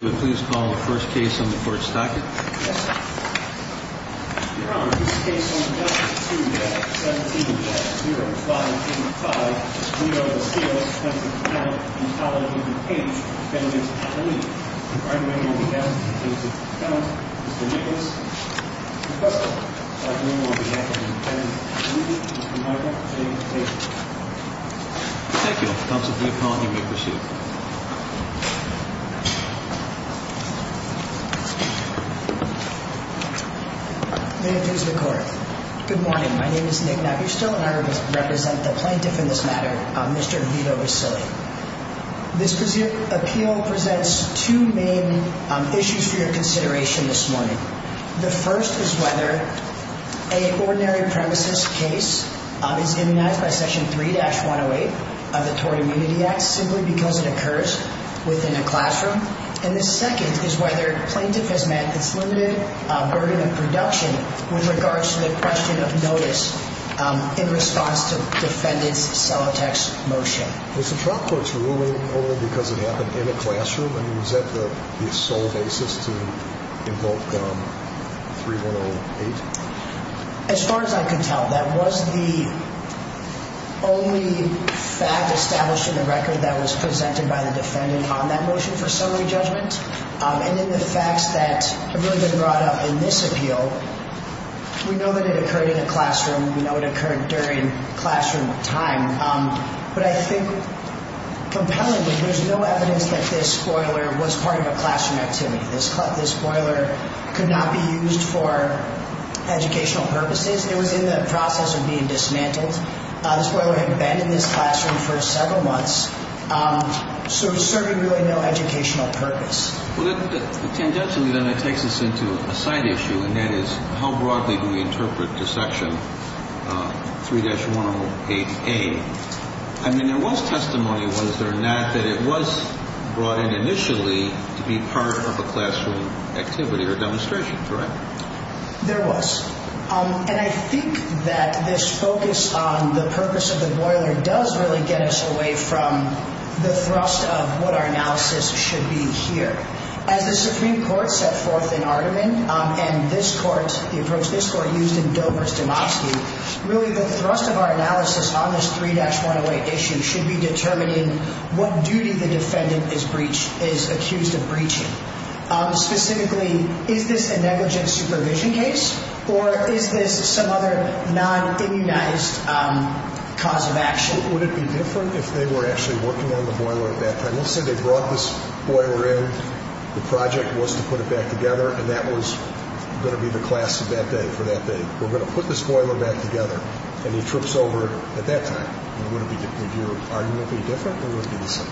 Would you please call the first case on the court's docket? Yes, sir. Your Honor, this case on document 2-17-0585, we are the field, Thompson County, College of DuPage, defendant's attorney. If I may be asked, the plaintiff's attorney, Mr. Nicholas, the prosecutor's attorney will be acting as the defendant's attorney. Mr. Michael, please proceed. Thank you. Thompson County, you may proceed. May it please the court. Good morning. My name is Nick Napierstow, and I represent the plaintiff in this matter, Mr. Vito Basile. This appeal presents two main issues for your consideration this morning. The first is whether a ordinary premises case is immunized by Section 3-108 of the Tory Immunity Act simply because it occurs within a classroom. And the second is whether a plaintiff has met its limited burden of production with regards to the question of notice in response to defendant's Celotex motion. Was the trial court's ruling only because it happened in a classroom? I mean, was that the sole basis to invoke 3-108? As far as I could tell, that was the only fact established in the record that was presented by the defendant on that motion for summary judgment. And in the facts that have really been brought up in this appeal, we know that it occurred in a classroom, we know it occurred during classroom time, but I think, compellingly, there's no evidence that this spoiler was part of a classroom activity. This spoiler could not be used for educational purposes. It was in the process of being dismantled. This spoiler had been in this classroom for several months. So it was serving really no educational purpose. Well, tangentially then it takes us into a side issue, and that is how broadly do we interpret the Section 3-108A? I mean, there was testimony, was there not, that it was brought in initially to be part of a classroom activity or demonstration, correct? There was. And I think that this focus on the purpose of the spoiler does really get us away from the thrust of what our analysis should be here. As the Supreme Court set forth in Arderman, and this Court, the approach this Court used in Dover's Demoskey, really the thrust of our analysis on this 3-108 issue Specifically, is this a negligent supervision case, or is this some other non-immunized cause of action? Would it be different if they were actually working on the boiler at that time? Let's say they brought this boiler in, the project was to put it back together, and that was going to be the class of that day for that day. We're going to put this boiler back together, and he trips over it at that time. Would your argument be different, or would it be the same?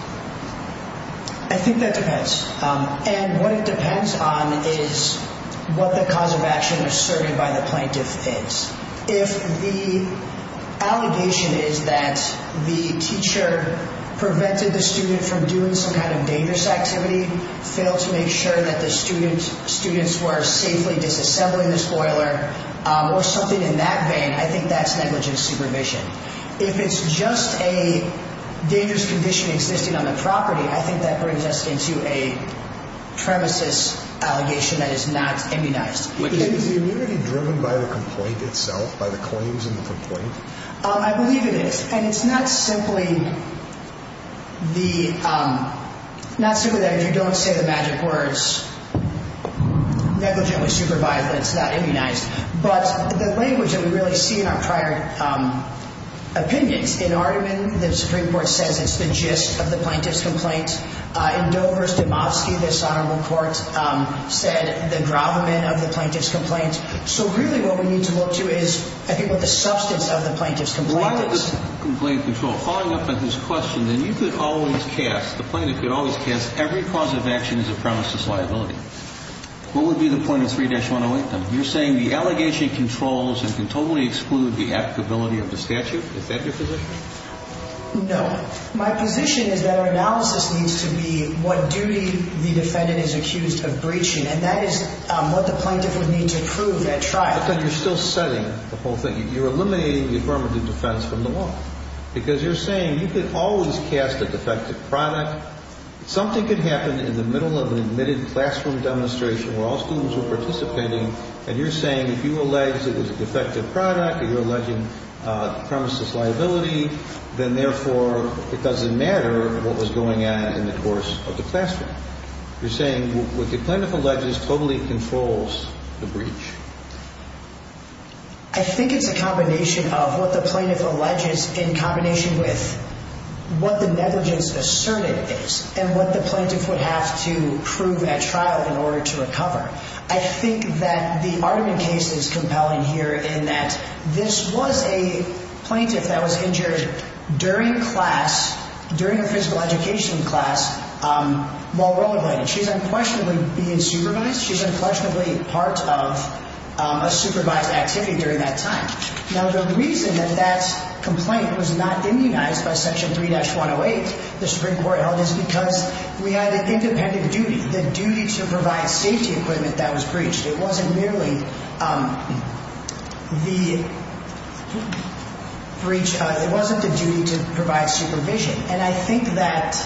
I think that depends. And what it depends on is what the cause of action asserted by the plaintiff is. If the allegation is that the teacher prevented the student from doing some kind of dangerous activity, failed to make sure that the students were safely disassembling this boiler, or something in that vein, I think that's negligent supervision. If it's just a dangerous condition existing on the property, I think that brings us into a premises allegation that is not immunized. Is the immunity driven by the complaint itself, by the claims in the complaint? I believe it is. And it's not simply that if you don't say the magic words, negligently supervised, that it's not immunized. But the language that we really see in our prior opinions, in Aardman, the Supreme Court says it's the gist of the plaintiff's complaint. In Dover, Stamovsky, this Honorable Court, said the gravamen of the plaintiff's complaint. So really what we need to look to is, I think, what the substance of the plaintiff's complaint is. Why is this complaint controlled? Following up on his question, then you could always cast, the plaintiff could always cast, every cause of action is a premises liability. What would be the point of 3-108 then? You're saying the allegation controls and can totally exclude the applicability of the statute? Is that your position? No. My position is that our analysis needs to be what duty the defendant is accused of breaching. And that is what the plaintiff would need to prove at trial. But then you're still setting the whole thing. You're eliminating the affirmative defense from the law. Because you're saying you could always cast a defective product. Something could happen in the middle of an admitted classroom demonstration, where all students were participating. And you're saying if you allege that it was a defective product, if you're alleging premises liability, then therefore it doesn't matter what was going on in the course of the classroom. You're saying what the plaintiff alleges totally controls the breach? I think it's a combination of what the plaintiff alleges in combination with what the negligence asserted is. And what the plaintiff would have to prove at trial in order to recover. I think that the Ardman case is compelling here in that this was a plaintiff that was injured during class, during a physical education class, while rollerblading. She's unquestionably being supervised. She's unquestionably part of a supervised activity during that time. Now the reason that that complaint was not immunized by Section 3-108, the Supreme Court held, is because we had an independent duty. The duty to provide safety equipment that was breached. It wasn't merely the breach, it wasn't the duty to provide supervision. And I think that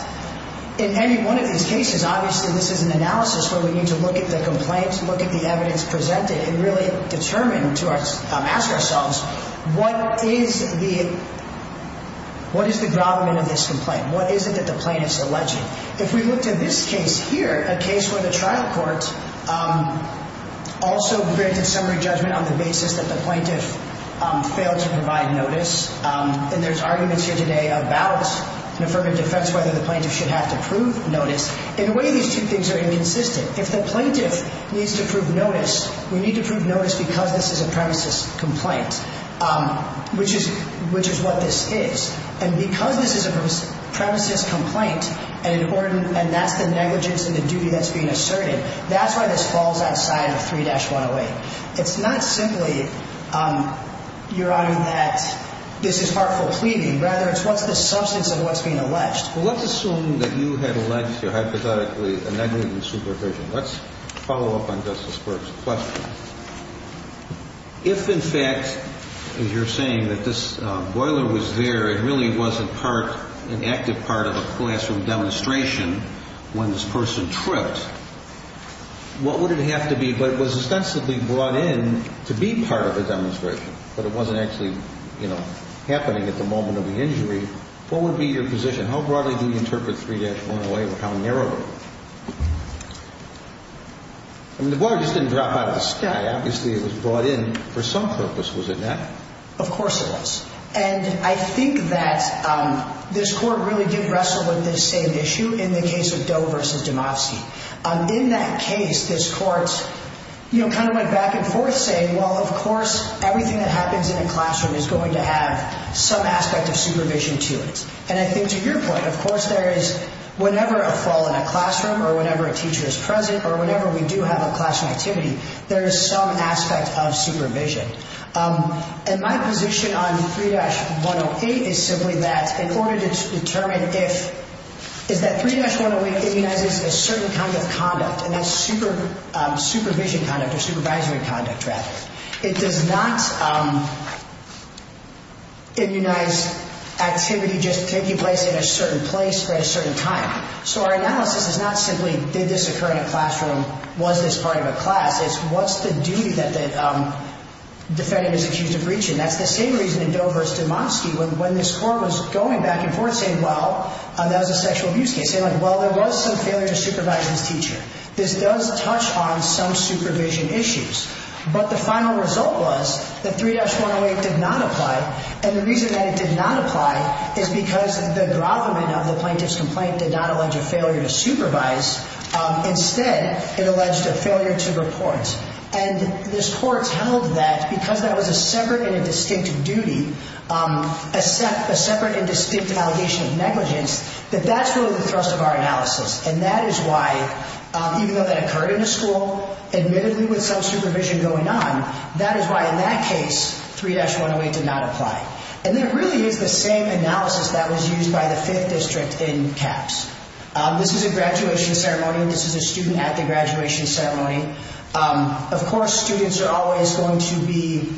in any one of these cases, obviously this is an analysis where we need to look at the complaints, look at the evidence presented, and really determine, ask ourselves, what is the grommet of this complaint? What is it that the plaintiff is alleging? If we looked at this case here, a case where the trial court also granted summary judgment on the basis that the plaintiff failed to provide notice, and there's arguments here today about an affirmative defense, whether the plaintiff should have to prove notice. In a way, these two things are inconsistent. If the plaintiff needs to prove notice, we need to prove notice because this is a premises complaint. Which is what this is. And because this is a premises complaint, and that's the negligence and the duty that's being asserted, that's why this falls outside of 3-108. It's not simply, Your Honor, that this is harmful pleading. Rather, it's what's the substance of what's being alleged. Well, let's assume that you had alleged here, hypothetically, a negligent supervision. Let's follow up on Justice Burke's question. If, in fact, as you're saying, that this boiler was there, it really was an active part of a classroom demonstration when this person tripped, what would it have to be? But it was ostensibly brought in to be part of a demonstration. But it wasn't actually, you know, happening at the moment of the injury. What would be your position? How broadly do you interpret 3-108, or how narrow? I mean, the boiler just didn't drop out of the sky. Obviously, it was brought in for some purpose, was it not? Of course it was. And I think that this Court really did wrestle with this same issue in the case of Doe v. Demofsky. In that case, this Court, you know, kind of went back and forth saying, well, of course, everything that happens in a classroom is going to have some aspect of supervision to it. And I think, to your point, of course, there is, whenever a fall in a classroom, or whenever a teacher is present, or whenever we do have a classroom activity, there is some aspect of supervision. And my position on 3-108 is simply that, in order to determine if, is that 3-108 immunizes a certain kind of conduct, and that's supervision conduct, or supervisory conduct, rather. It does not immunize activity just taking place in a certain place at a certain time. So our analysis is not simply, did this occur in a classroom? Was this part of a class? It's, what's the duty that the defendant is accused of reaching? That's the same reason in Doe v. Demofsky, when this Court was going back and forth saying, well, that was a sexual abuse case. Saying, well, there was some failure to supervise this teacher. This does touch on some supervision issues. But the final result was that 3-108 did not apply. And the reason that it did not apply is because the grovelment of the plaintiff's complaint did not allege a failure to supervise. Instead, it alleged a failure to report. And this Court held that, because that was a separate and a distinct duty, a separate and distinct allegation of negligence, that that's really the thrust of our analysis. And that is why, even though that occurred in a school, admittedly with some supervision going on, that is why in that case, 3-108 did not apply. And there really is the same analysis that was used by the Fifth District in CAPS. This is a graduation ceremony. This is a student at the graduation ceremony. Of course, students are always going to be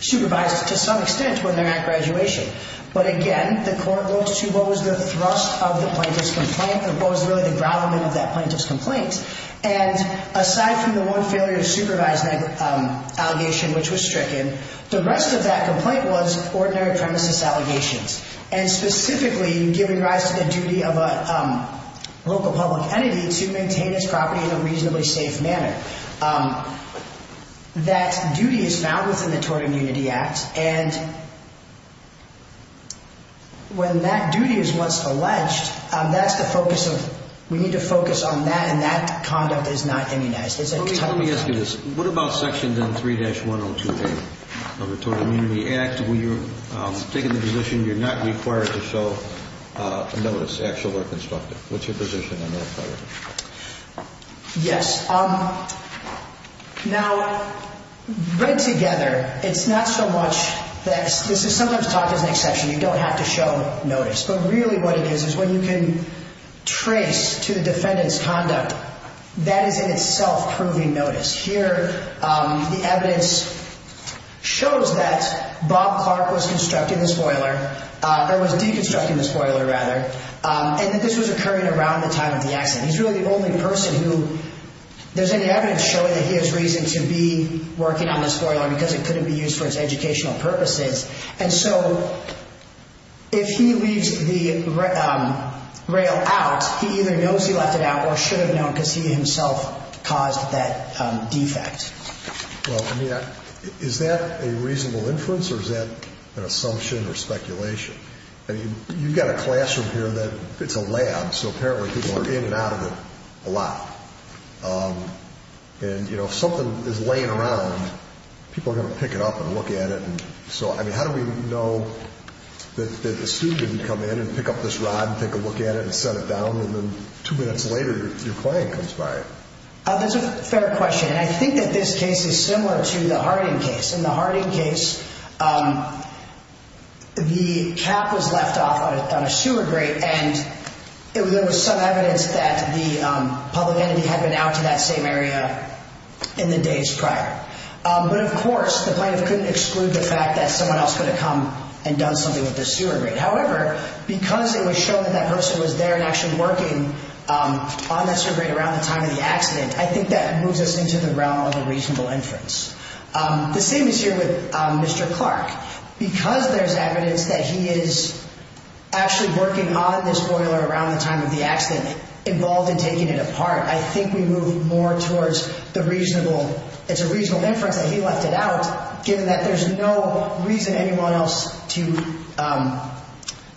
supervised to some extent when they're at graduation. But again, the Court goes to what was the thrust of the plaintiff's complaint and what was really the grovelment of that plaintiff's complaint. And aside from the one failure to supervise allegation, which was stricken, the rest of that complaint was ordinary premises allegations, and specifically giving rise to the duty of a local public entity to maintain its property in a reasonably safe manner. That duty is found within the Tort Immunity Act. And when that duty is what's alleged, we need to focus on that and that conduct is not immunized. Let me ask you this. What about Section 3-102A of the Tort Immunity Act? When you're taking the position you're not required to show a notice, actual or constructive? What's your position on that part of it? Yes. Now, read together, it's not so much that this is sometimes talked as an exception. You don't have to show notice. But really what it is is when you can trace to the defendant's conduct, that is in itself proving notice. Here the evidence shows that Bob Clark was constructing the spoiler, or was deconstructing the spoiler rather, and that this was occurring around the time of the accident. He's really the only person who there's any evidence showing that he has reason to be working on the spoiler because it couldn't be used for its educational purposes. And so if he leaves the rail out, he either knows he left it out or should have known because he himself caused that defect. Well, I mean, is that a reasonable inference or is that an assumption or speculation? I mean, you've got a classroom here that it's a lab, so apparently people are in and out of it a lot. And, you know, if something is laying around, people are going to pick it up and look at it. So, I mean, how do we know that the student didn't come in and pick up this rod and take a look at it and set it down, and then two minutes later your client comes by? That's a fair question. And I think that this case is similar to the Harding case. In the Harding case, the cap was left off on a sewer grate, and there was some evidence that the public entity had been out to that same area in the days prior. But, of course, the plaintiff couldn't exclude the fact that someone else could have come and done something with the sewer grate. However, because it was shown that that person was there and actually working on that sewer grate around the time of the accident, I think that moves us into the realm of a reasonable inference. The same is here with Mr. Clark. Because there's evidence that he is actually working on this boiler around the time of the accident, involved in taking it apart, I think we move more towards the reasonable, it's a reasonable inference that he left it out, given that there's no reason anyone else to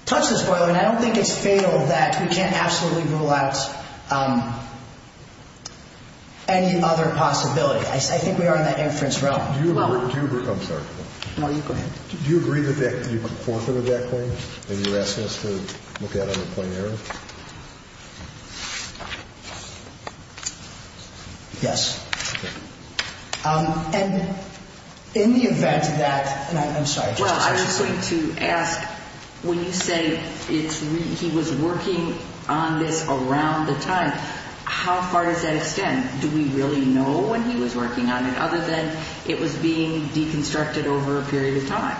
touch this boiler, and I don't think it's fatal that we can't absolutely rule out any other possibility. I think we are in that inference realm. Do you agree? I'm sorry. No, you go ahead. Do you agree that you could forfeit a debt claim that you're asking us to look at on a plain error? Yes. Okay. And in the event that, and I'm sorry. Well, I was going to ask, when you say he was working on this around the time, how far does that extend? Do we really know when he was working on it, other than it was being deconstructed over a period of time?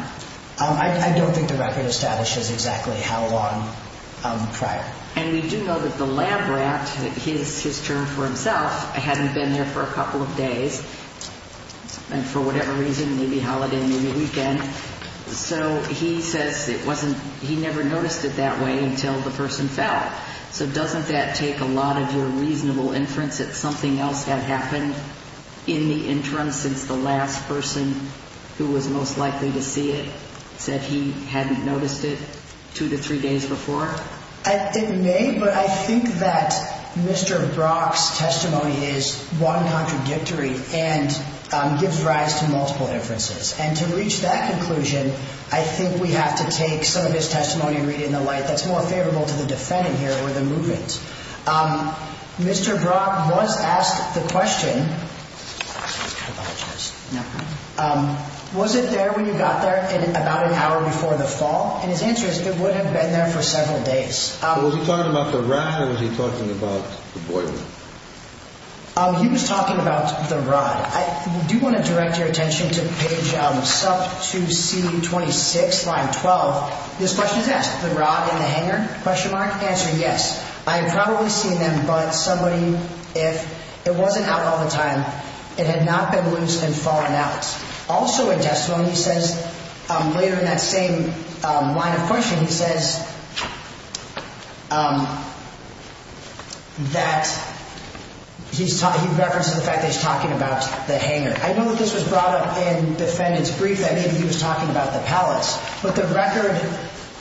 I don't think the record establishes exactly how long prior. And we do know that the lab rat, his term for himself, hadn't been there for a couple of days, and for whatever reason, maybe holiday, maybe weekend. So he says it wasn't, he never noticed it that way until the person fell. So doesn't that take a lot of your reasonable inference that something else had happened in the interim since the last person who was most likely to see it said he hadn't noticed it two to three days before? It may, but I think that Mr. Brock's testimony is one contradictory and gives rise to multiple inferences. And to reach that conclusion, I think we have to take some of his testimony and read it in the light that's more favorable to the defendant here or the movement. Mr. Brock was asked the question, was it there when you got there about an hour before the fall? And his answer is it would have been there for several days. Was he talking about the rod or was he talking about the boy? He was talking about the rod. I do want to direct your attention to page sub 2C26, line 12. This question is asked, the rod and the hanger? Question mark. Answer, yes. I had probably seen them, but somebody, if it wasn't out all the time, it had not been loose and fallen out. Also in testimony, he says later in that same line of questioning, he says that he's talking, he references the fact that he's talking about the hanger. I know that this was brought up in defendant's brief. I knew that maybe he was talking about the pallets. But the record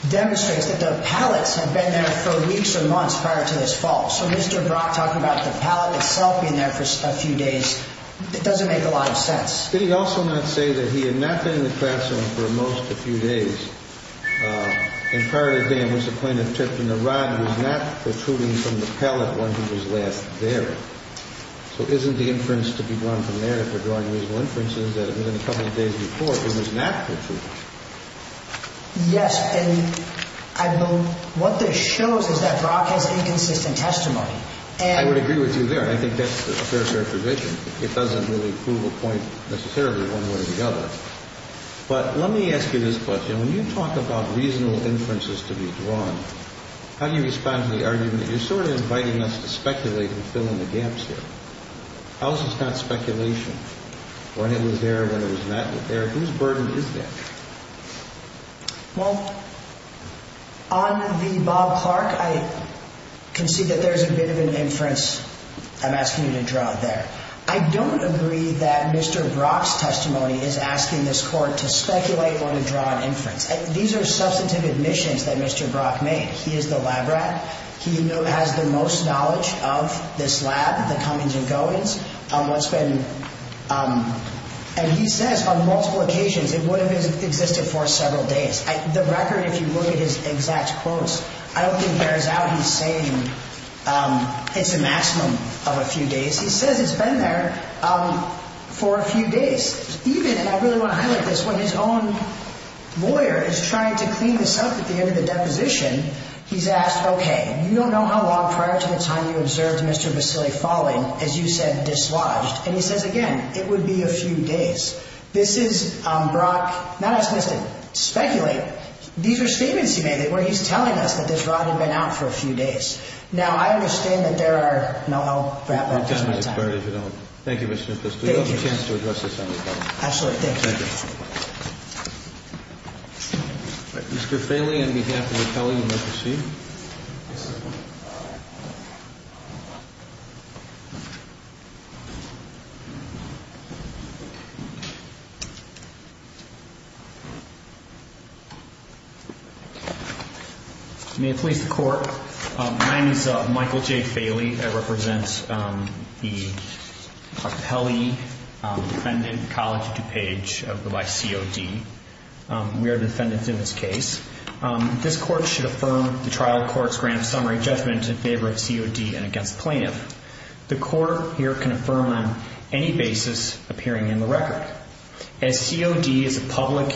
demonstrates that the pallets had been there for weeks or months prior to this fall. So Mr. Brock talking about the pallet itself being there for a few days, it doesn't make a lot of sense. Did he also not say that he had not been in the classroom for most of the few days and prior to then was the plaintiff tripped and the rod was not protruding from the pallet when he was last there? So isn't the inference to be drawn from there, if we're drawing reasonable inferences, that if it had been a couple of days before, it was not protruding? Yes. And what this shows is that Brock has inconsistent testimony. I would agree with you there. I think that's a fair, fair provision. It doesn't really prove a point necessarily one way or the other. But let me ask you this question. When you talk about reasonable inferences to be drawn, how do you respond to the argument that you're sort of inviting us to speculate and fill in the gaps here? How is this not speculation? When it was there, when it was not there, whose burden is that? Well, on the Bob Clark, I can see that there's a bit of an inference I'm asking you to draw there. I don't agree that Mr. Brock's testimony is asking this Court to speculate or to draw an inference. These are substantive admissions that Mr. Brock made. He is the lab rat. He has the most knowledge of this lab, the comings and goings, on what's been— and he says on multiple occasions it would have existed for several days. The record, if you look at his exact quotes, I don't think bears out he's saying it's a maximum of a few days. He says it's been there for a few days. Even—and I really want to highlight this. When his own lawyer is trying to clean this up at the end of the deposition, he's asked, okay, you don't know how long prior to the time you observed Mr. Vasili falling, as you said, dislodged. And he says again, it would be a few days. This is Brock not asking us to speculate. These are statements he made where he's telling us that this rod had been out for a few days. Now, I understand that there are—no, I'll wrap up. Thank you, Mr. Pustay. We have a chance to address this on the panel. Absolutely. Thank you. Thank you. Mr. Faley, on behalf of the Pele, you may proceed. May it please the Court, my name is Michael J. Faley. I represent the Pele Defendant College DuPage by COD. We are the defendants in this case. This Court should affirm the trial court's grand summary judgment in favor of COD and against plaintiff. The Court here can affirm on any basis appearing in the record. As COD is a public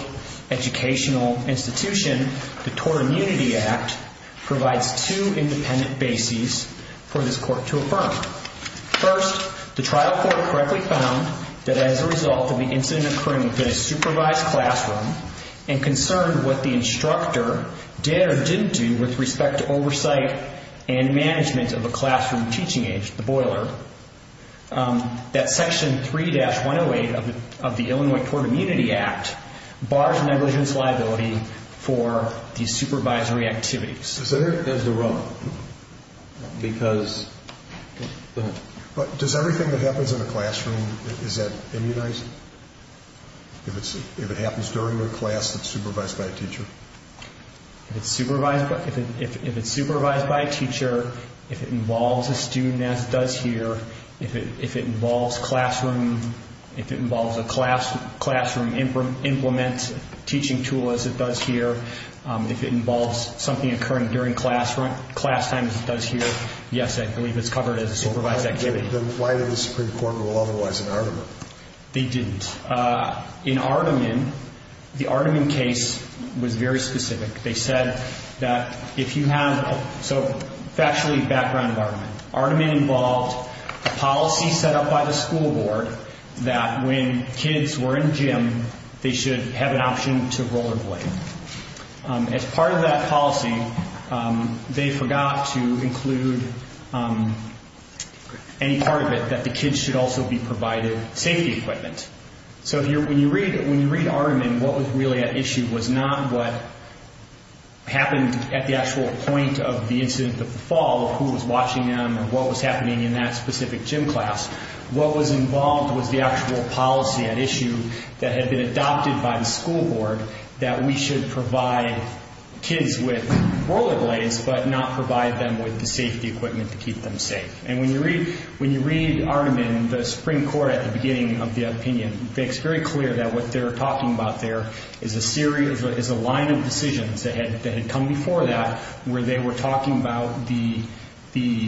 educational institution, the Tort Immunity Act provides two independent bases for this Court to affirm. First, the trial court correctly found that as a result of the incident occurring within a supervised classroom and concerned what the instructor did or didn't do with respect to oversight and management of a classroom teaching aid, the boiler, that section 3-108 of the Illinois Tort Immunity Act bars negligence liability for these supervisory activities. Does everything that happens in a classroom, is that immunized? If it happens during the class, it's supervised by a teacher? If it's supervised by a teacher, if it involves a student as it does here, if it involves classroom, if it involves a classroom implement teaching tool as it does here, if it involves something occurring during class time as it does here, yes, I believe it's covered as a supervised activity. Why did the Supreme Court rule otherwise in Artiman? They didn't. In Artiman, the Artiman case was very specific. They said that if you have, so factually background of Artiman. Artiman involved policy set up by the school board that when kids were in gym, they should have an option to rollerblade. As part of that policy, they forgot to include any part of it that the kids should also be provided safety equipment. So when you read Artiman, what was really at issue was not what happened at the actual point of the incident, the fall of who was watching them and what was happening in that specific gym class. What was involved was the actual policy at issue that had been adopted by the school board that we should provide kids with rollerblades but not provide them with the safety equipment to keep them safe. And when you read Artiman, the Supreme Court at the beginning of the opinion, it's very clear that what they're talking about there is a series, is a line of decisions that had come before that where they were talking about the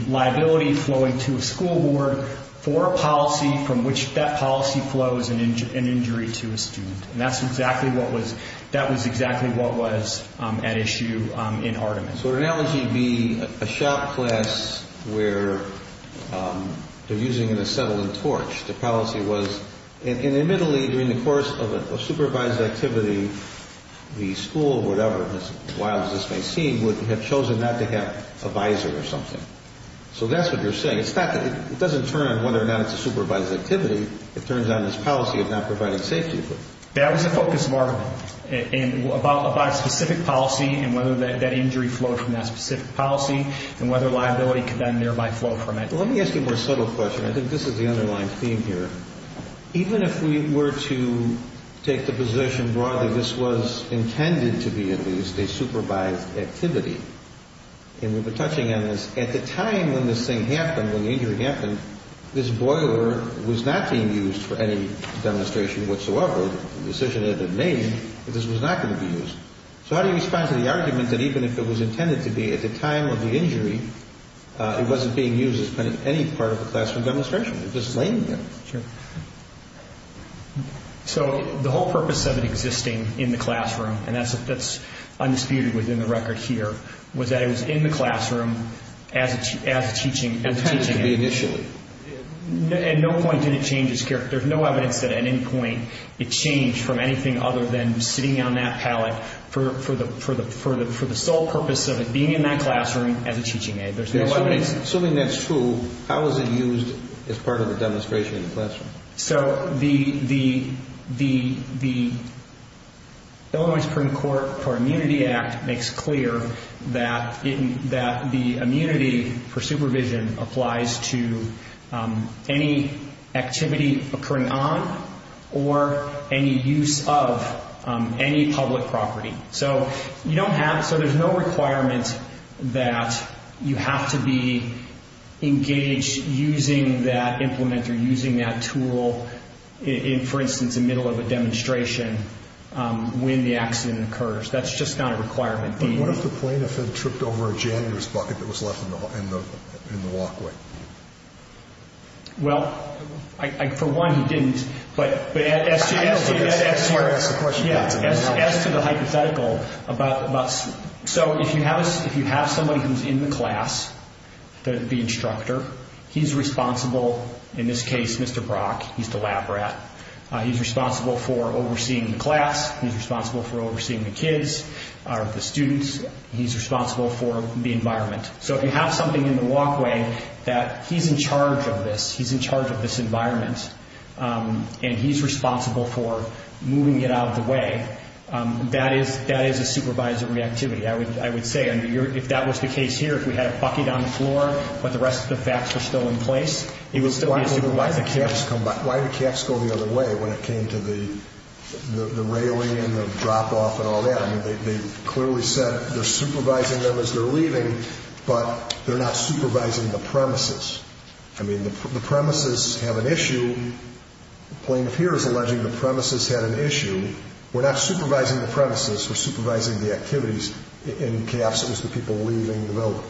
liability flowing to a school board for a policy from which that policy flows an injury to a student. And that's exactly what was, that was exactly what was at issue in Artiman. So an analogy would be a shop class where they're using an acetylene torch. The policy was, and admittedly during the course of a supervised activity, the school or whatever, as wild as this may seem, would have chosen not to have a visor or something. So that's what you're saying. It's not that, it doesn't turn on whether or not it's a supervised activity. It turns on this policy of not providing safety equipment. That was the focus of Artiman, about a specific policy and whether that injury flowed from that specific policy and whether liability could then thereby flow from it. Let me ask you a more subtle question. I think this is the underlying theme here. Even if we were to take the position broadly this was intended to be at least a supervised activity, and we were touching on this, at the time when this thing happened, when the injury happened, this boiler was not being used for any demonstration whatsoever. The decision had been made that this was not going to be used. So how do you respond to the argument that even if it was intended to be at the time of the injury, it wasn't being used as any part of a classroom demonstration? Sure. So the whole purpose of it existing in the classroom, and that's undisputed within the record here, was that it was in the classroom as a teaching aid. Intended to be initially. At no point did it change its character. There's no evidence that at any point it changed from anything other than sitting on that pallet for the sole purpose of it being in that classroom as a teaching aid. Assuming that's true, how is it used as part of a demonstration in the classroom? So the Illinois Supreme Court for Immunity Act makes clear that the immunity for supervision applies to any activity occurring on or any use of any public property. So you don't have, so there's no requirement that you have to be engaged using that implement or using that tool in, for instance, the middle of a demonstration when the accident occurs. That's just not a requirement. But what if the plane had tripped over a janitor's bucket that was left in the walkway? Well, for one, he didn't. But as to the hypothetical, so if you have somebody who's in the class, the instructor, he's responsible, in this case, Mr. Brock. He's the lab rat. He's responsible for overseeing the class. He's responsible for overseeing the kids, the students. He's responsible for the environment. So if you have something in the walkway that he's in charge of this, he's in charge of this environment, and he's responsible for moving it out of the way, that is a supervisor reactivity, I would say. And if that was the case here, if we had a bucket on the floor but the rest of the facts were still in place, he would still be a supervisor. Why did CAFs go the other way when it came to the railing and the drop-off and all that? I mean, they clearly said they're supervising them as they're leaving, but they're not supervising the premises. I mean, the premises have an issue. The plaintiff here is alleging the premises had an issue. We're not supervising the premises. We're supervising the activities in CAFs as the people are leaving the building.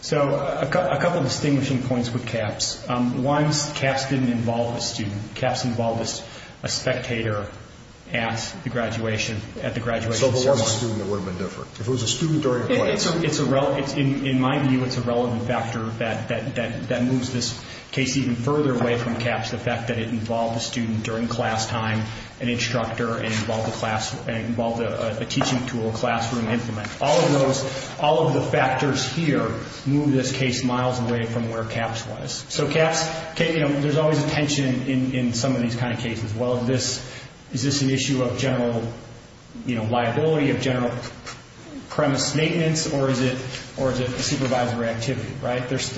So a couple of distinguishing points with CAFs. One, CAFs didn't involve a student. CAFs involved a spectator at the graduation ceremony. So if it was a student, it would have been different. If it was a student during a play. In my view, it's a relevant factor that moves this case even further away from CAFs, the fact that it involved a student during class time, an instructor, and it involved a teaching tool, a classroom implement. All of those, all of the factors here move this case miles away from where CAFs was. So CAFs, there's always a tension in some of these kind of cases. Well, is this an issue of general liability, of general premise maintenance, or is it a supervisory activity, right? There's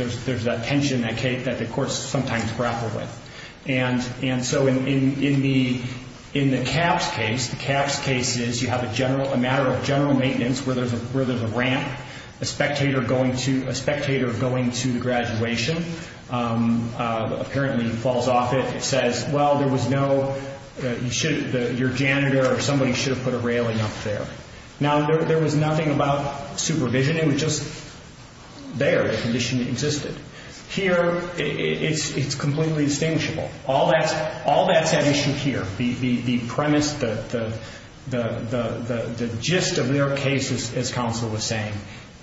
that tension that the courts sometimes grapple with. And so in the CAFs case, the CAFs case is you have a matter of general maintenance where there's a ramp, a spectator going to the graduation, apparently falls off it. It says, well, there was no, your janitor or somebody should have put a railing up there. Now, there was nothing about supervision. It was just there. The condition existed. Here, it's completely distinguishable. All that's at issue here. The premise, the gist of their case, as counsel was saying,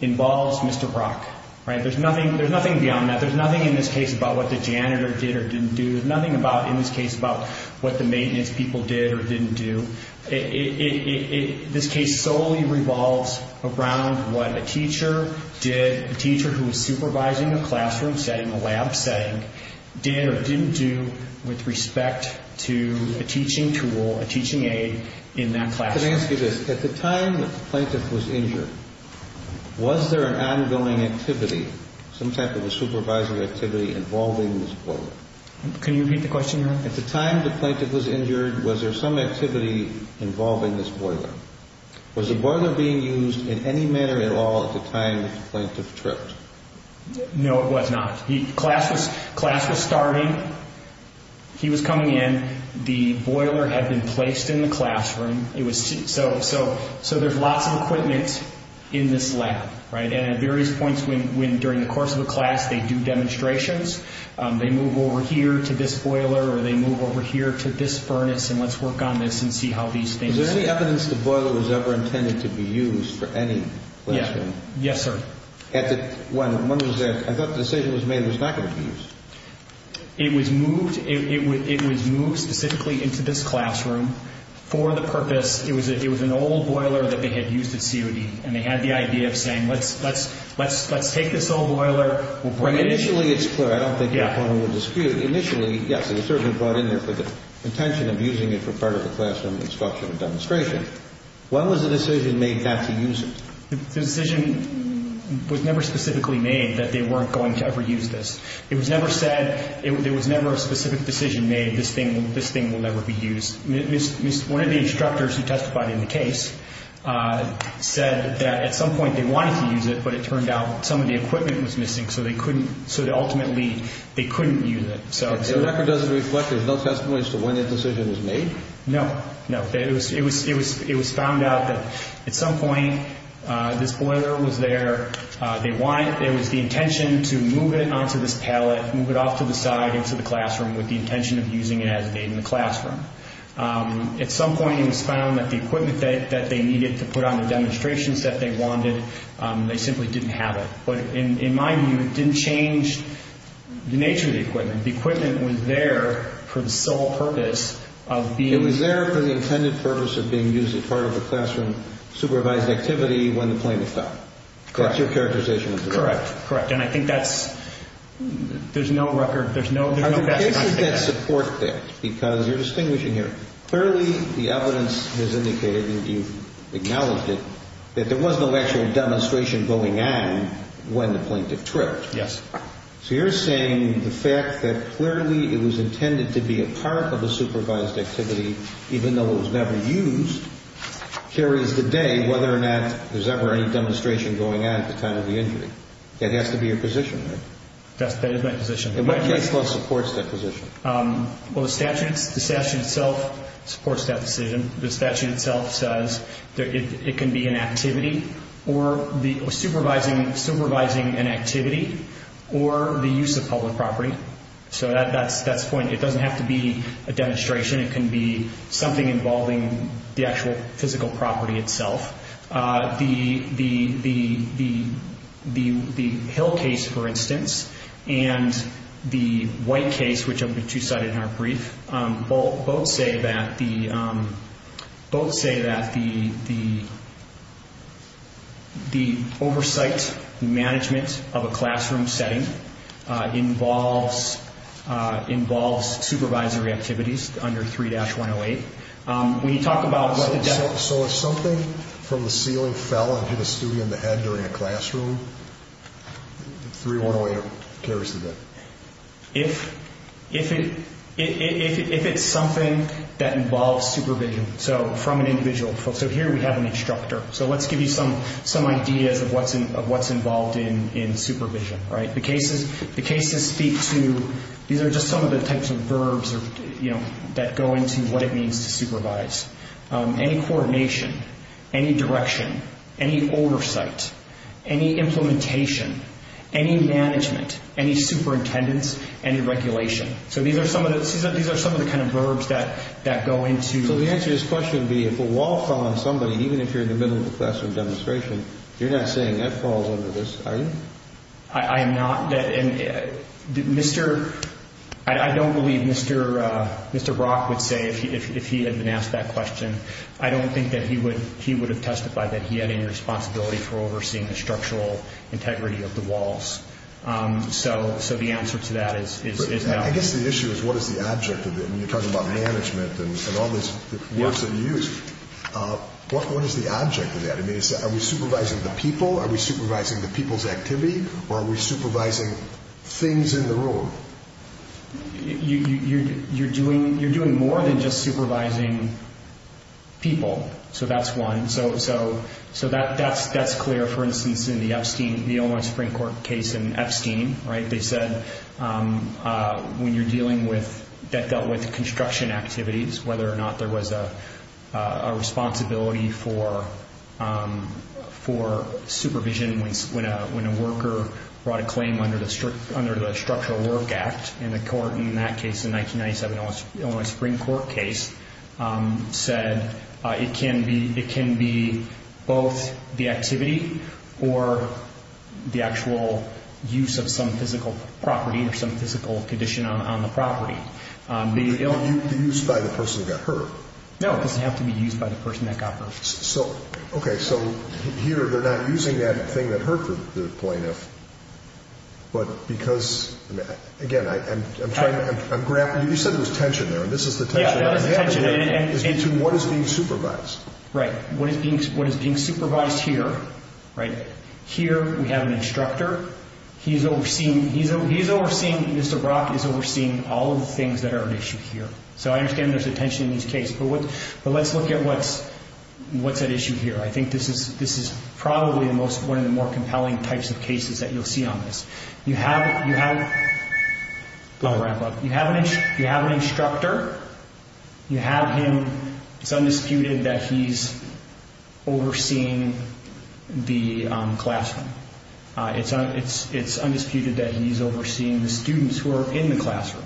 involves Mr. Brock. There's nothing beyond that. There's nothing in this case about what the janitor did or didn't do. There's nothing in this case about what the maintenance people did or didn't do. This case solely revolves around what a teacher did, a teacher who was supervising a classroom setting, a lab setting, did or didn't do with respect to a teaching tool, a teaching aid in that classroom. Let me ask you this. At the time the plaintiff was injured, was there an ongoing activity, some type of a supervising activity involving this boiler? Can you repeat the question again? At the time the plaintiff was injured, was there some activity involving this boiler? Was the boiler being used in any manner at all at the time the plaintiff tripped? No, it was not. Class was starting. He was coming in. The boiler had been placed in the classroom. So there's lots of equipment in this lab. And at various points during the course of the class, they do demonstrations. They move over here to this boiler, or they move over here to this furnace, and let's work on this and see how these things work. Was there any evidence the boiler was ever intended to be used for any lesson? Yes, sir. When was that? I thought the decision was made it was not going to be used. It was moved specifically into this classroom for the purpose. It was an old boiler that they had used at COD, and they had the idea of saying let's take this old boiler. Initially, it's clear. I don't think your opponent would dispute. Initially, yes, it was certainly brought in there for the intention of using it for part of the classroom instruction and demonstration. When was the decision made not to use it? The decision was never specifically made that they weren't going to ever use this. It was never said, there was never a specific decision made, this thing will never be used. One of the instructors who testified in the case said that at some point they wanted to use it, but it turned out some of the equipment was missing, so they ultimately couldn't use it. The record doesn't reflect there's no testimony as to when that decision was made? No. It was found out that at some point this boiler was there. There was the intention to move it onto this pallet, move it off to the side, with the intention of using it as a maid in the classroom. At some point it was found that the equipment that they needed to put on the demonstrations that they wanted, they simply didn't have it. But in my view, it didn't change the nature of the equipment. The equipment was there for the sole purpose of being used. It was there for the intended purpose of being used as part of the classroom supervised activity when the plane was stopped. Correct. That's your characterization. Correct. And I think that's, there's no record, there's no background to that. How did the cases get support there? Because you're distinguishing here. Clearly the evidence has indicated, and you've acknowledged it, that there was no actual demonstration going on when the plane did trip. Yes. So you're saying the fact that clearly it was intended to be a part of a supervised activity, even though it was never used, carries the day whether or not there's ever any demonstration going on at the time of the injury. That has to be your position, right? That is my position. And what case law supports that position? Well, the statute itself supports that decision. The statute itself says that it can be an activity or supervising an activity or the use of public property. So that's the point. It doesn't have to be a demonstration. It can be something involving the actual physical property itself. The Hill case, for instance, and the White case, which I've been two-sided in our brief, both say that the oversight and management of a classroom setting involves supervisory activities under 3-108. So if something from the ceiling fell and hit a student in the head during a classroom, 3-108 carries the day? If it's something that involves supervision from an individual. So here we have an instructor. So let's give you some ideas of what's involved in supervision. The cases speak to, these are just some of the types of verbs that go into what it means to supervise. Any coordination, any direction, any oversight, any implementation, any management, any superintendents, any regulation. So these are some of the kind of verbs that go into. So the answer to this question would be if a wall fell on somebody, even if you're in the middle of a classroom demonstration, you're not saying that falls under this, are you? I am not. I don't believe Mr. Brock would say if he had been asked that question. I don't think that he would have testified that he had any responsibility for overseeing the structural integrity of the walls. So the answer to that is no. I guess the issue is what is the object of it? When you're talking about management and all these words that you use, what is the object of that? Are we supervising the people? Are we supervising the people's activity? Or are we supervising things in the room? You're doing more than just supervising people. So that's one. So that's clear, for instance, in the Epstein, the Illinois Supreme Court case in Epstein. They said when you're dealing with, that dealt with construction activities, whether or not there was a responsibility for supervision when a worker brought a claim under the Structural Work Act. And the court in that case, the 1997 Illinois Supreme Court case, said it can be both the activity or the actual use of some physical property or some physical condition on the property. The use by the person that got hurt. No, it doesn't have to be used by the person that got hurt. Okay, so here they're not using that thing that hurt the plaintiff. But because, again, I'm grappling. You said there was tension there, and this is the tension. Yeah, there was tension. What is being supervised? What is being supervised here, right, here we have an instructor. He's overseeing Mr. Brock. He's overseeing all of the things that are an issue here. So I understand there's a tension in these cases. But let's look at what's at issue here. I think this is probably one of the more compelling types of cases that you'll see on this. You have an instructor. You have him. It's undisputed that he's overseeing the classroom. It's undisputed that he's overseeing the students who are in the classroom.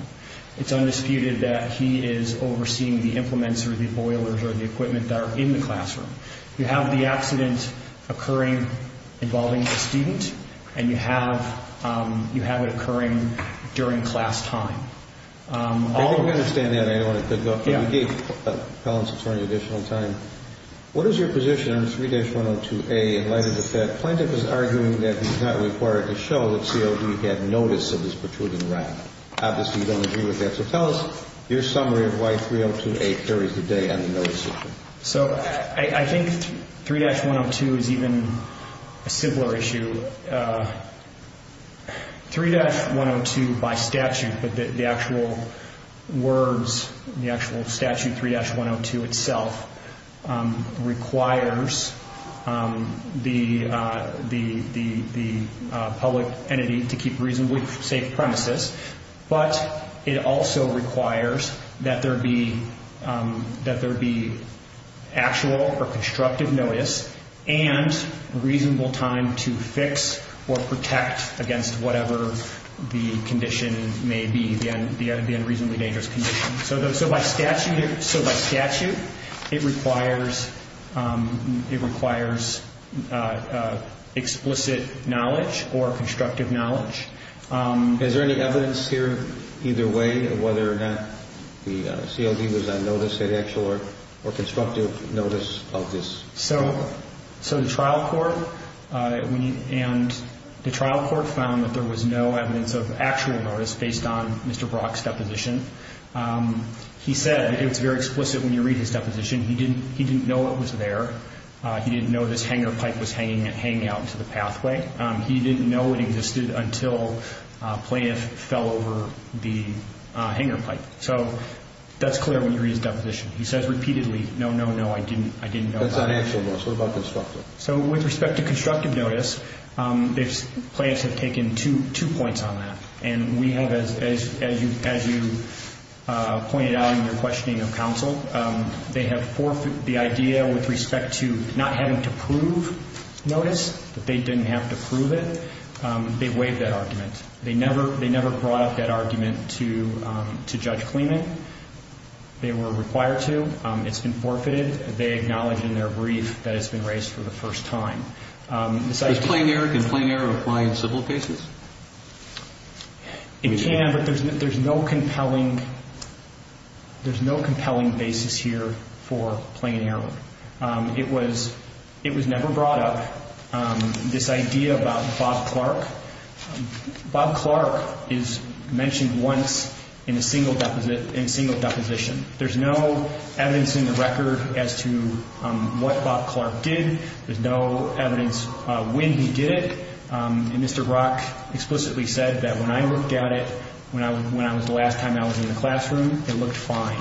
It's undisputed that he is overseeing the implements or the boilers or the equipment that are in the classroom. You have the accident occurring involving the student, and you have it occurring during class time. I don't understand that. I don't want to dig up on it. But we gave felons attorney additional time. What is your position on 3-102A in light of the fact that Plaintiff is arguing that it's not required to show that COD had notice of this protruding rack? Obviously, you don't agree with that. So tell us your summary of why 3-102A carries the day on the notice issue. So I think 3-102 is even a similar issue. 3-102 by statute, the actual words, the actual statute, 3-102 itself, requires the public entity to keep reasonably safe premises, but it also requires that there be actual or constructive notice and reasonable time to fix or protect against whatever the condition may be, the unreasonably dangerous condition. So by statute, it requires explicit knowledge or constructive knowledge. Is there any evidence here, either way, of whether or not the COD was on notice of actual or constructive notice of this? So the trial court found that there was no evidence of actual notice based on Mr. Brock's deposition. He said it's very explicit when you read his deposition. He didn't know it was there. He didn't know this hanger pipe was hanging out to the pathway. He didn't know it existed until Plaintiff fell over the hanger pipe. So that's clear when you read his deposition. He says repeatedly, no, no, no, I didn't know that. That's not actual notice. What about constructive? So with respect to constructive notice, Plaintiffs have taken two points on that, and we have, as you pointed out in your questioning of counsel, they have forfeited the idea with respect to not having to prove notice, that they didn't have to prove it. They waived that argument. They never brought up that argument to Judge Kleeman. They were required to. It's been forfeited. They acknowledge in their brief that it's been raised for the first time. Can plain error apply in civil cases? It can, but there's no compelling basis here for plain error. It was never brought up, this idea about Bob Clark. Bob Clark is mentioned once in a single deposition. There's no evidence in the record as to what Bob Clark did. There's no evidence when he did it. And Mr. Brock explicitly said that when I looked at it, when I was the last time I was in the classroom, it looked fine.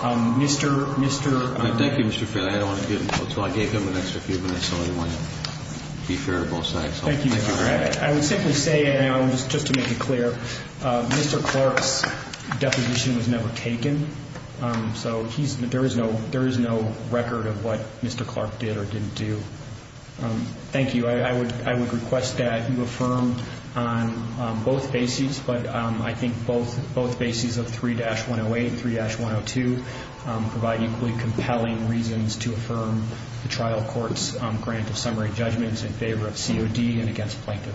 Thank you, Mr. Fairley. I gave him an extra few minutes, so I want to be fair to both sides. Thank you, Mr. Fairley. I would simply say, just to make it clear, Mr. Clark's deposition was never taken. So there is no record of what Mr. Clark did or didn't do. Thank you. I would request that you affirm on both bases, but I think both bases of 3-108 and 3-102 provide equally compelling reasons to affirm the trial court's grant of summary judgments in favor of COD and against plaintiff.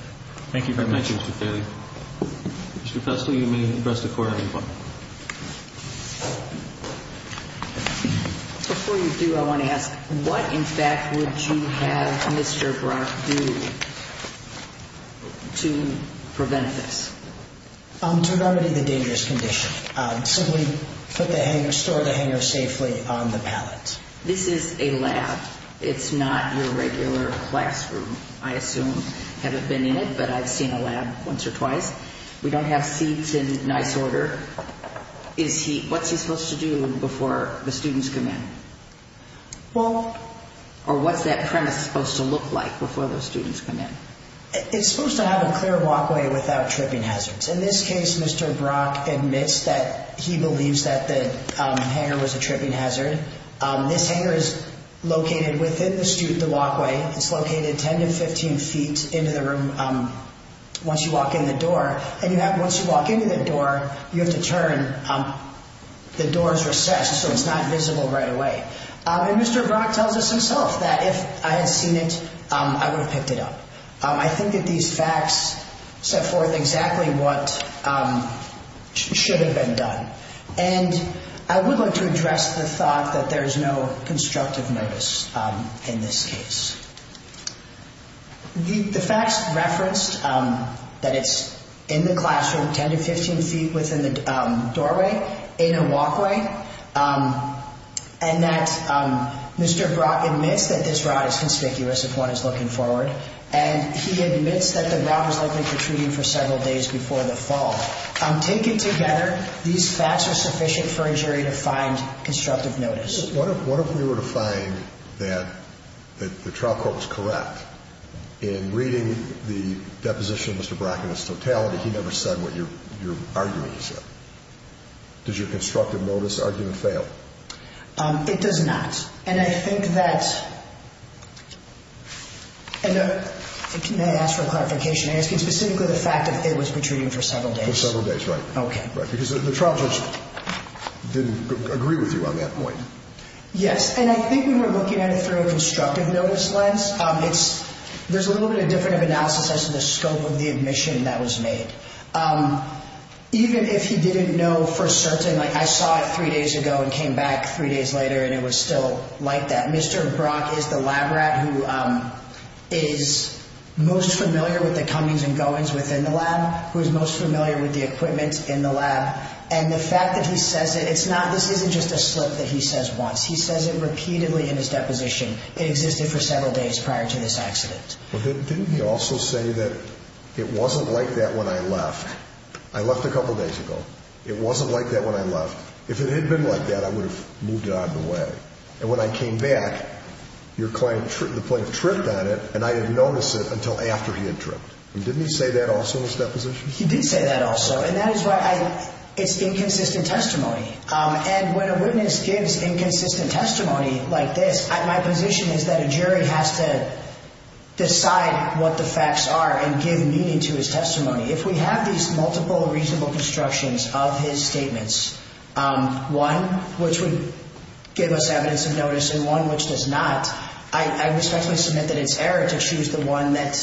Thank you very much. Thank you, Mr. Fairley. Mr. Pressley, you may press the record button. Before you do, I want to ask, what, in fact, would you have Mr. Brock do to prevent this? To remedy the dangerous condition. Simply put the hanger, store the hanger safely on the pallet. This is a lab. It's not your regular classroom, I assume. I haven't been in it, but I've seen a lab once or twice. We don't have seats in nice order. What's he supposed to do before the students come in? Or what's that premise supposed to look like before those students come in? It's supposed to have a clear walkway without tripping hazards. In this case, Mr. Brock admits that he believes that the hanger was a tripping hazard. This hanger is located within the walkway. It's located 10 to 15 feet into the room once you walk in the door. And once you walk into the door, you have to turn. The door is recessed, so it's not visible right away. And Mr. Brock tells us himself that if I had seen it, I would have picked it up. I think that these facts set forth exactly what should have been done. And I would like to address the thought that there is no constructive notice in this case. The facts referenced that it's in the classroom, 10 to 15 feet within the doorway, in a walkway. And that Mr. Brock admits that this rod is conspicuous if one is looking forward. And he admits that the rod was likely protruding for several days before the fall. Taken together, these facts are sufficient for a jury to find constructive notice. What if we were to find that the trial court was correct? In reading the deposition of Mr. Brock in its totality, he never said what your argument is. Does your constructive notice argument fail? It does not. And I think that—and may I ask for a clarification? I'm asking specifically the fact that it was protruding for several days. For several days, right. Okay. Because the trial judge didn't agree with you on that point. Yes. And I think when we're looking at it through a constructive notice lens, there's a little bit of difference of analysis as to the scope of the admission that was made. Even if he didn't know for certain, like I saw it three days ago and came back three days later, and it was still like that. And Mr. Brock is the lab rat who is most familiar with the comings and goings within the lab, who is most familiar with the equipment in the lab. And the fact that he says it, it's not—this isn't just a slip that he says once. He says it repeatedly in his deposition. It existed for several days prior to this accident. Well, didn't he also say that it wasn't like that when I left? I left a couple days ago. It wasn't like that when I left. If it had been like that, I would have moved out of the way. And when I came back, your client tripped on it, and I had noticed it until after he had tripped. Didn't he say that also in his deposition? He did say that also. And that is why I—it's inconsistent testimony. And when a witness gives inconsistent testimony like this, my position is that a jury has to decide what the facts are and give meaning to his testimony. If we have these multiple reasonable constructions of his statements, one which would give us evidence of notice and one which does not, I respectfully submit that it's error to choose the one that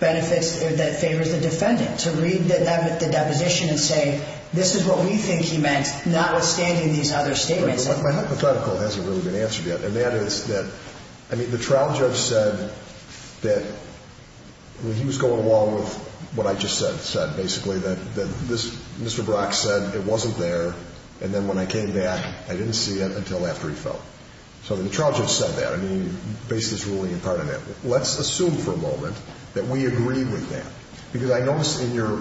benefits—that favors the defendant, to read the deposition and say, this is what we think he meant, notwithstanding these other statements. My hypothetical hasn't really been answered yet. And that is that—I mean, the trial judge said that—he was going along with what I just said, basically, that Mr. Brock said it wasn't there, and then when I came back, I didn't see it until after he fell. So the trial judge said that. I mean, he based his ruling in part on that. Let's assume for a moment that we agree with that. Because I noticed in your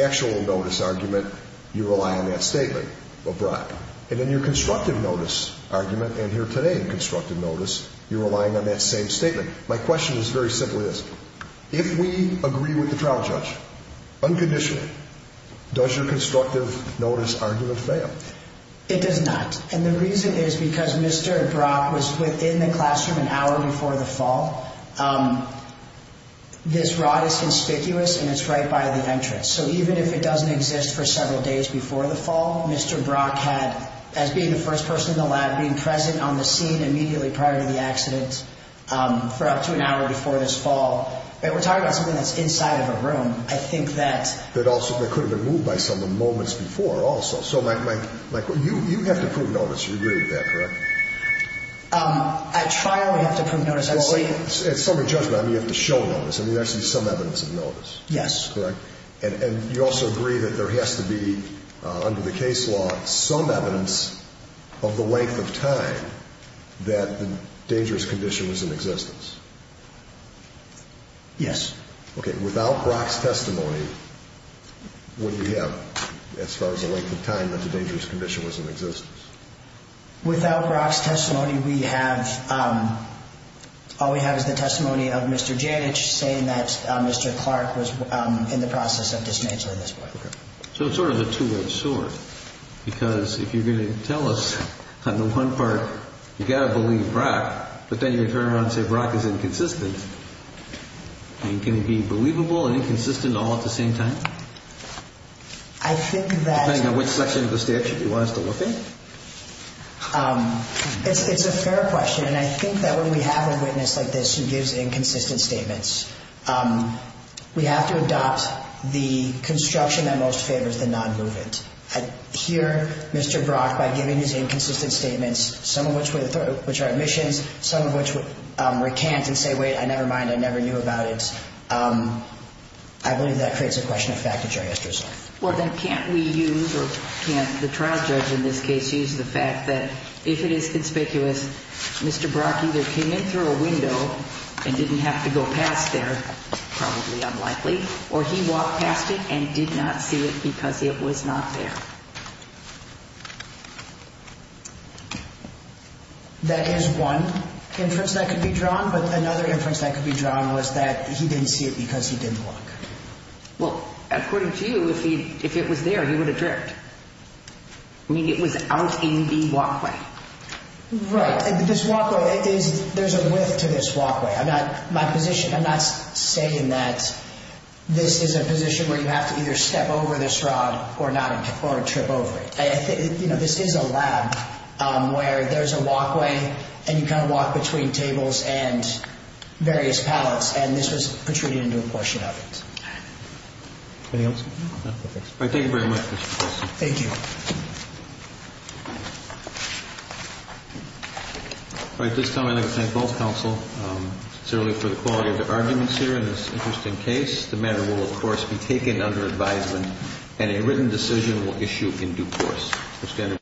actual notice argument, you rely on that statement of Brock. And in your constructive notice argument, and here today in constructive notice, you're relying on that same statement. My question is very simply this. If we agree with the trial judge unconditionally, does your constructive notice argument fail? It does not. And the reason is because Mr. Brock was within the classroom an hour before the fall. This rod is conspicuous, and it's right by the entrance. So even if it doesn't exist for several days before the fall, Mr. Brock had, as being the first person in the lab, being present on the scene immediately prior to the accident for up to an hour before this fall. We're talking about something that's inside of a room. I think that also could have been moved by someone moments before also. So you have to prove notice. You agree with that, correct? At trial, we have to prove notice. At summary judgment, I mean, you have to show notice. I mean, there has to be some evidence of notice. Yes. And you also agree that there has to be, under the case law, some evidence of the length of time that the dangerous condition was in existence. Yes. Okay. Without Brock's testimony, what do you have as far as the length of time that the dangerous condition was in existence? Without Brock's testimony, we have – all we have is the testimony of Mr. Janich saying that Mr. Clark was in the process of dismantling this. Okay. So it's sort of a two-edged sword, because if you're going to tell us on the one part you've got to believe Brock, but then you turn around and say Brock is inconsistent, I mean, can it be believable and inconsistent all at the same time? I think that – It's a fair question, and I think that when we have a witness like this who gives inconsistent statements, we have to adopt the construction that most favors the non-movement. Here, Mr. Brock, by giving his inconsistent statements, some of which are admissions, some of which recant and say, wait, never mind, I never knew about it. I believe that creates a question of fact and jury history. Well, then can't we use – or can't the trial judge in this case use the fact that if it is conspicuous, Mr. Brock either came in through a window and didn't have to go past there, probably unlikely, or he walked past it and did not see it because it was not there? That is one inference that could be drawn, but another inference that could be drawn was that he didn't see it because he didn't look. Well, according to you, if it was there, he would have dripped. I mean, it was out in the walkway. Right. This walkway is – there's a width to this walkway. I'm not – my position – I'm not saying that this is a position where you have to either step over this rod or not or trip over it. You know, this is a lab where there's a walkway, and you kind of walk between tables and various pallets, and this was protruding into a question of it. Anything else? No. All right. Thank you very much, Mr. Gorsuch. Thank you. All right. At this time, I'd like to thank both counsel sincerely for the quality of their arguments here in this interesting case. The matter will, of course, be taken under advisement, and a written decision will issue in due course. Mr. Kennedy.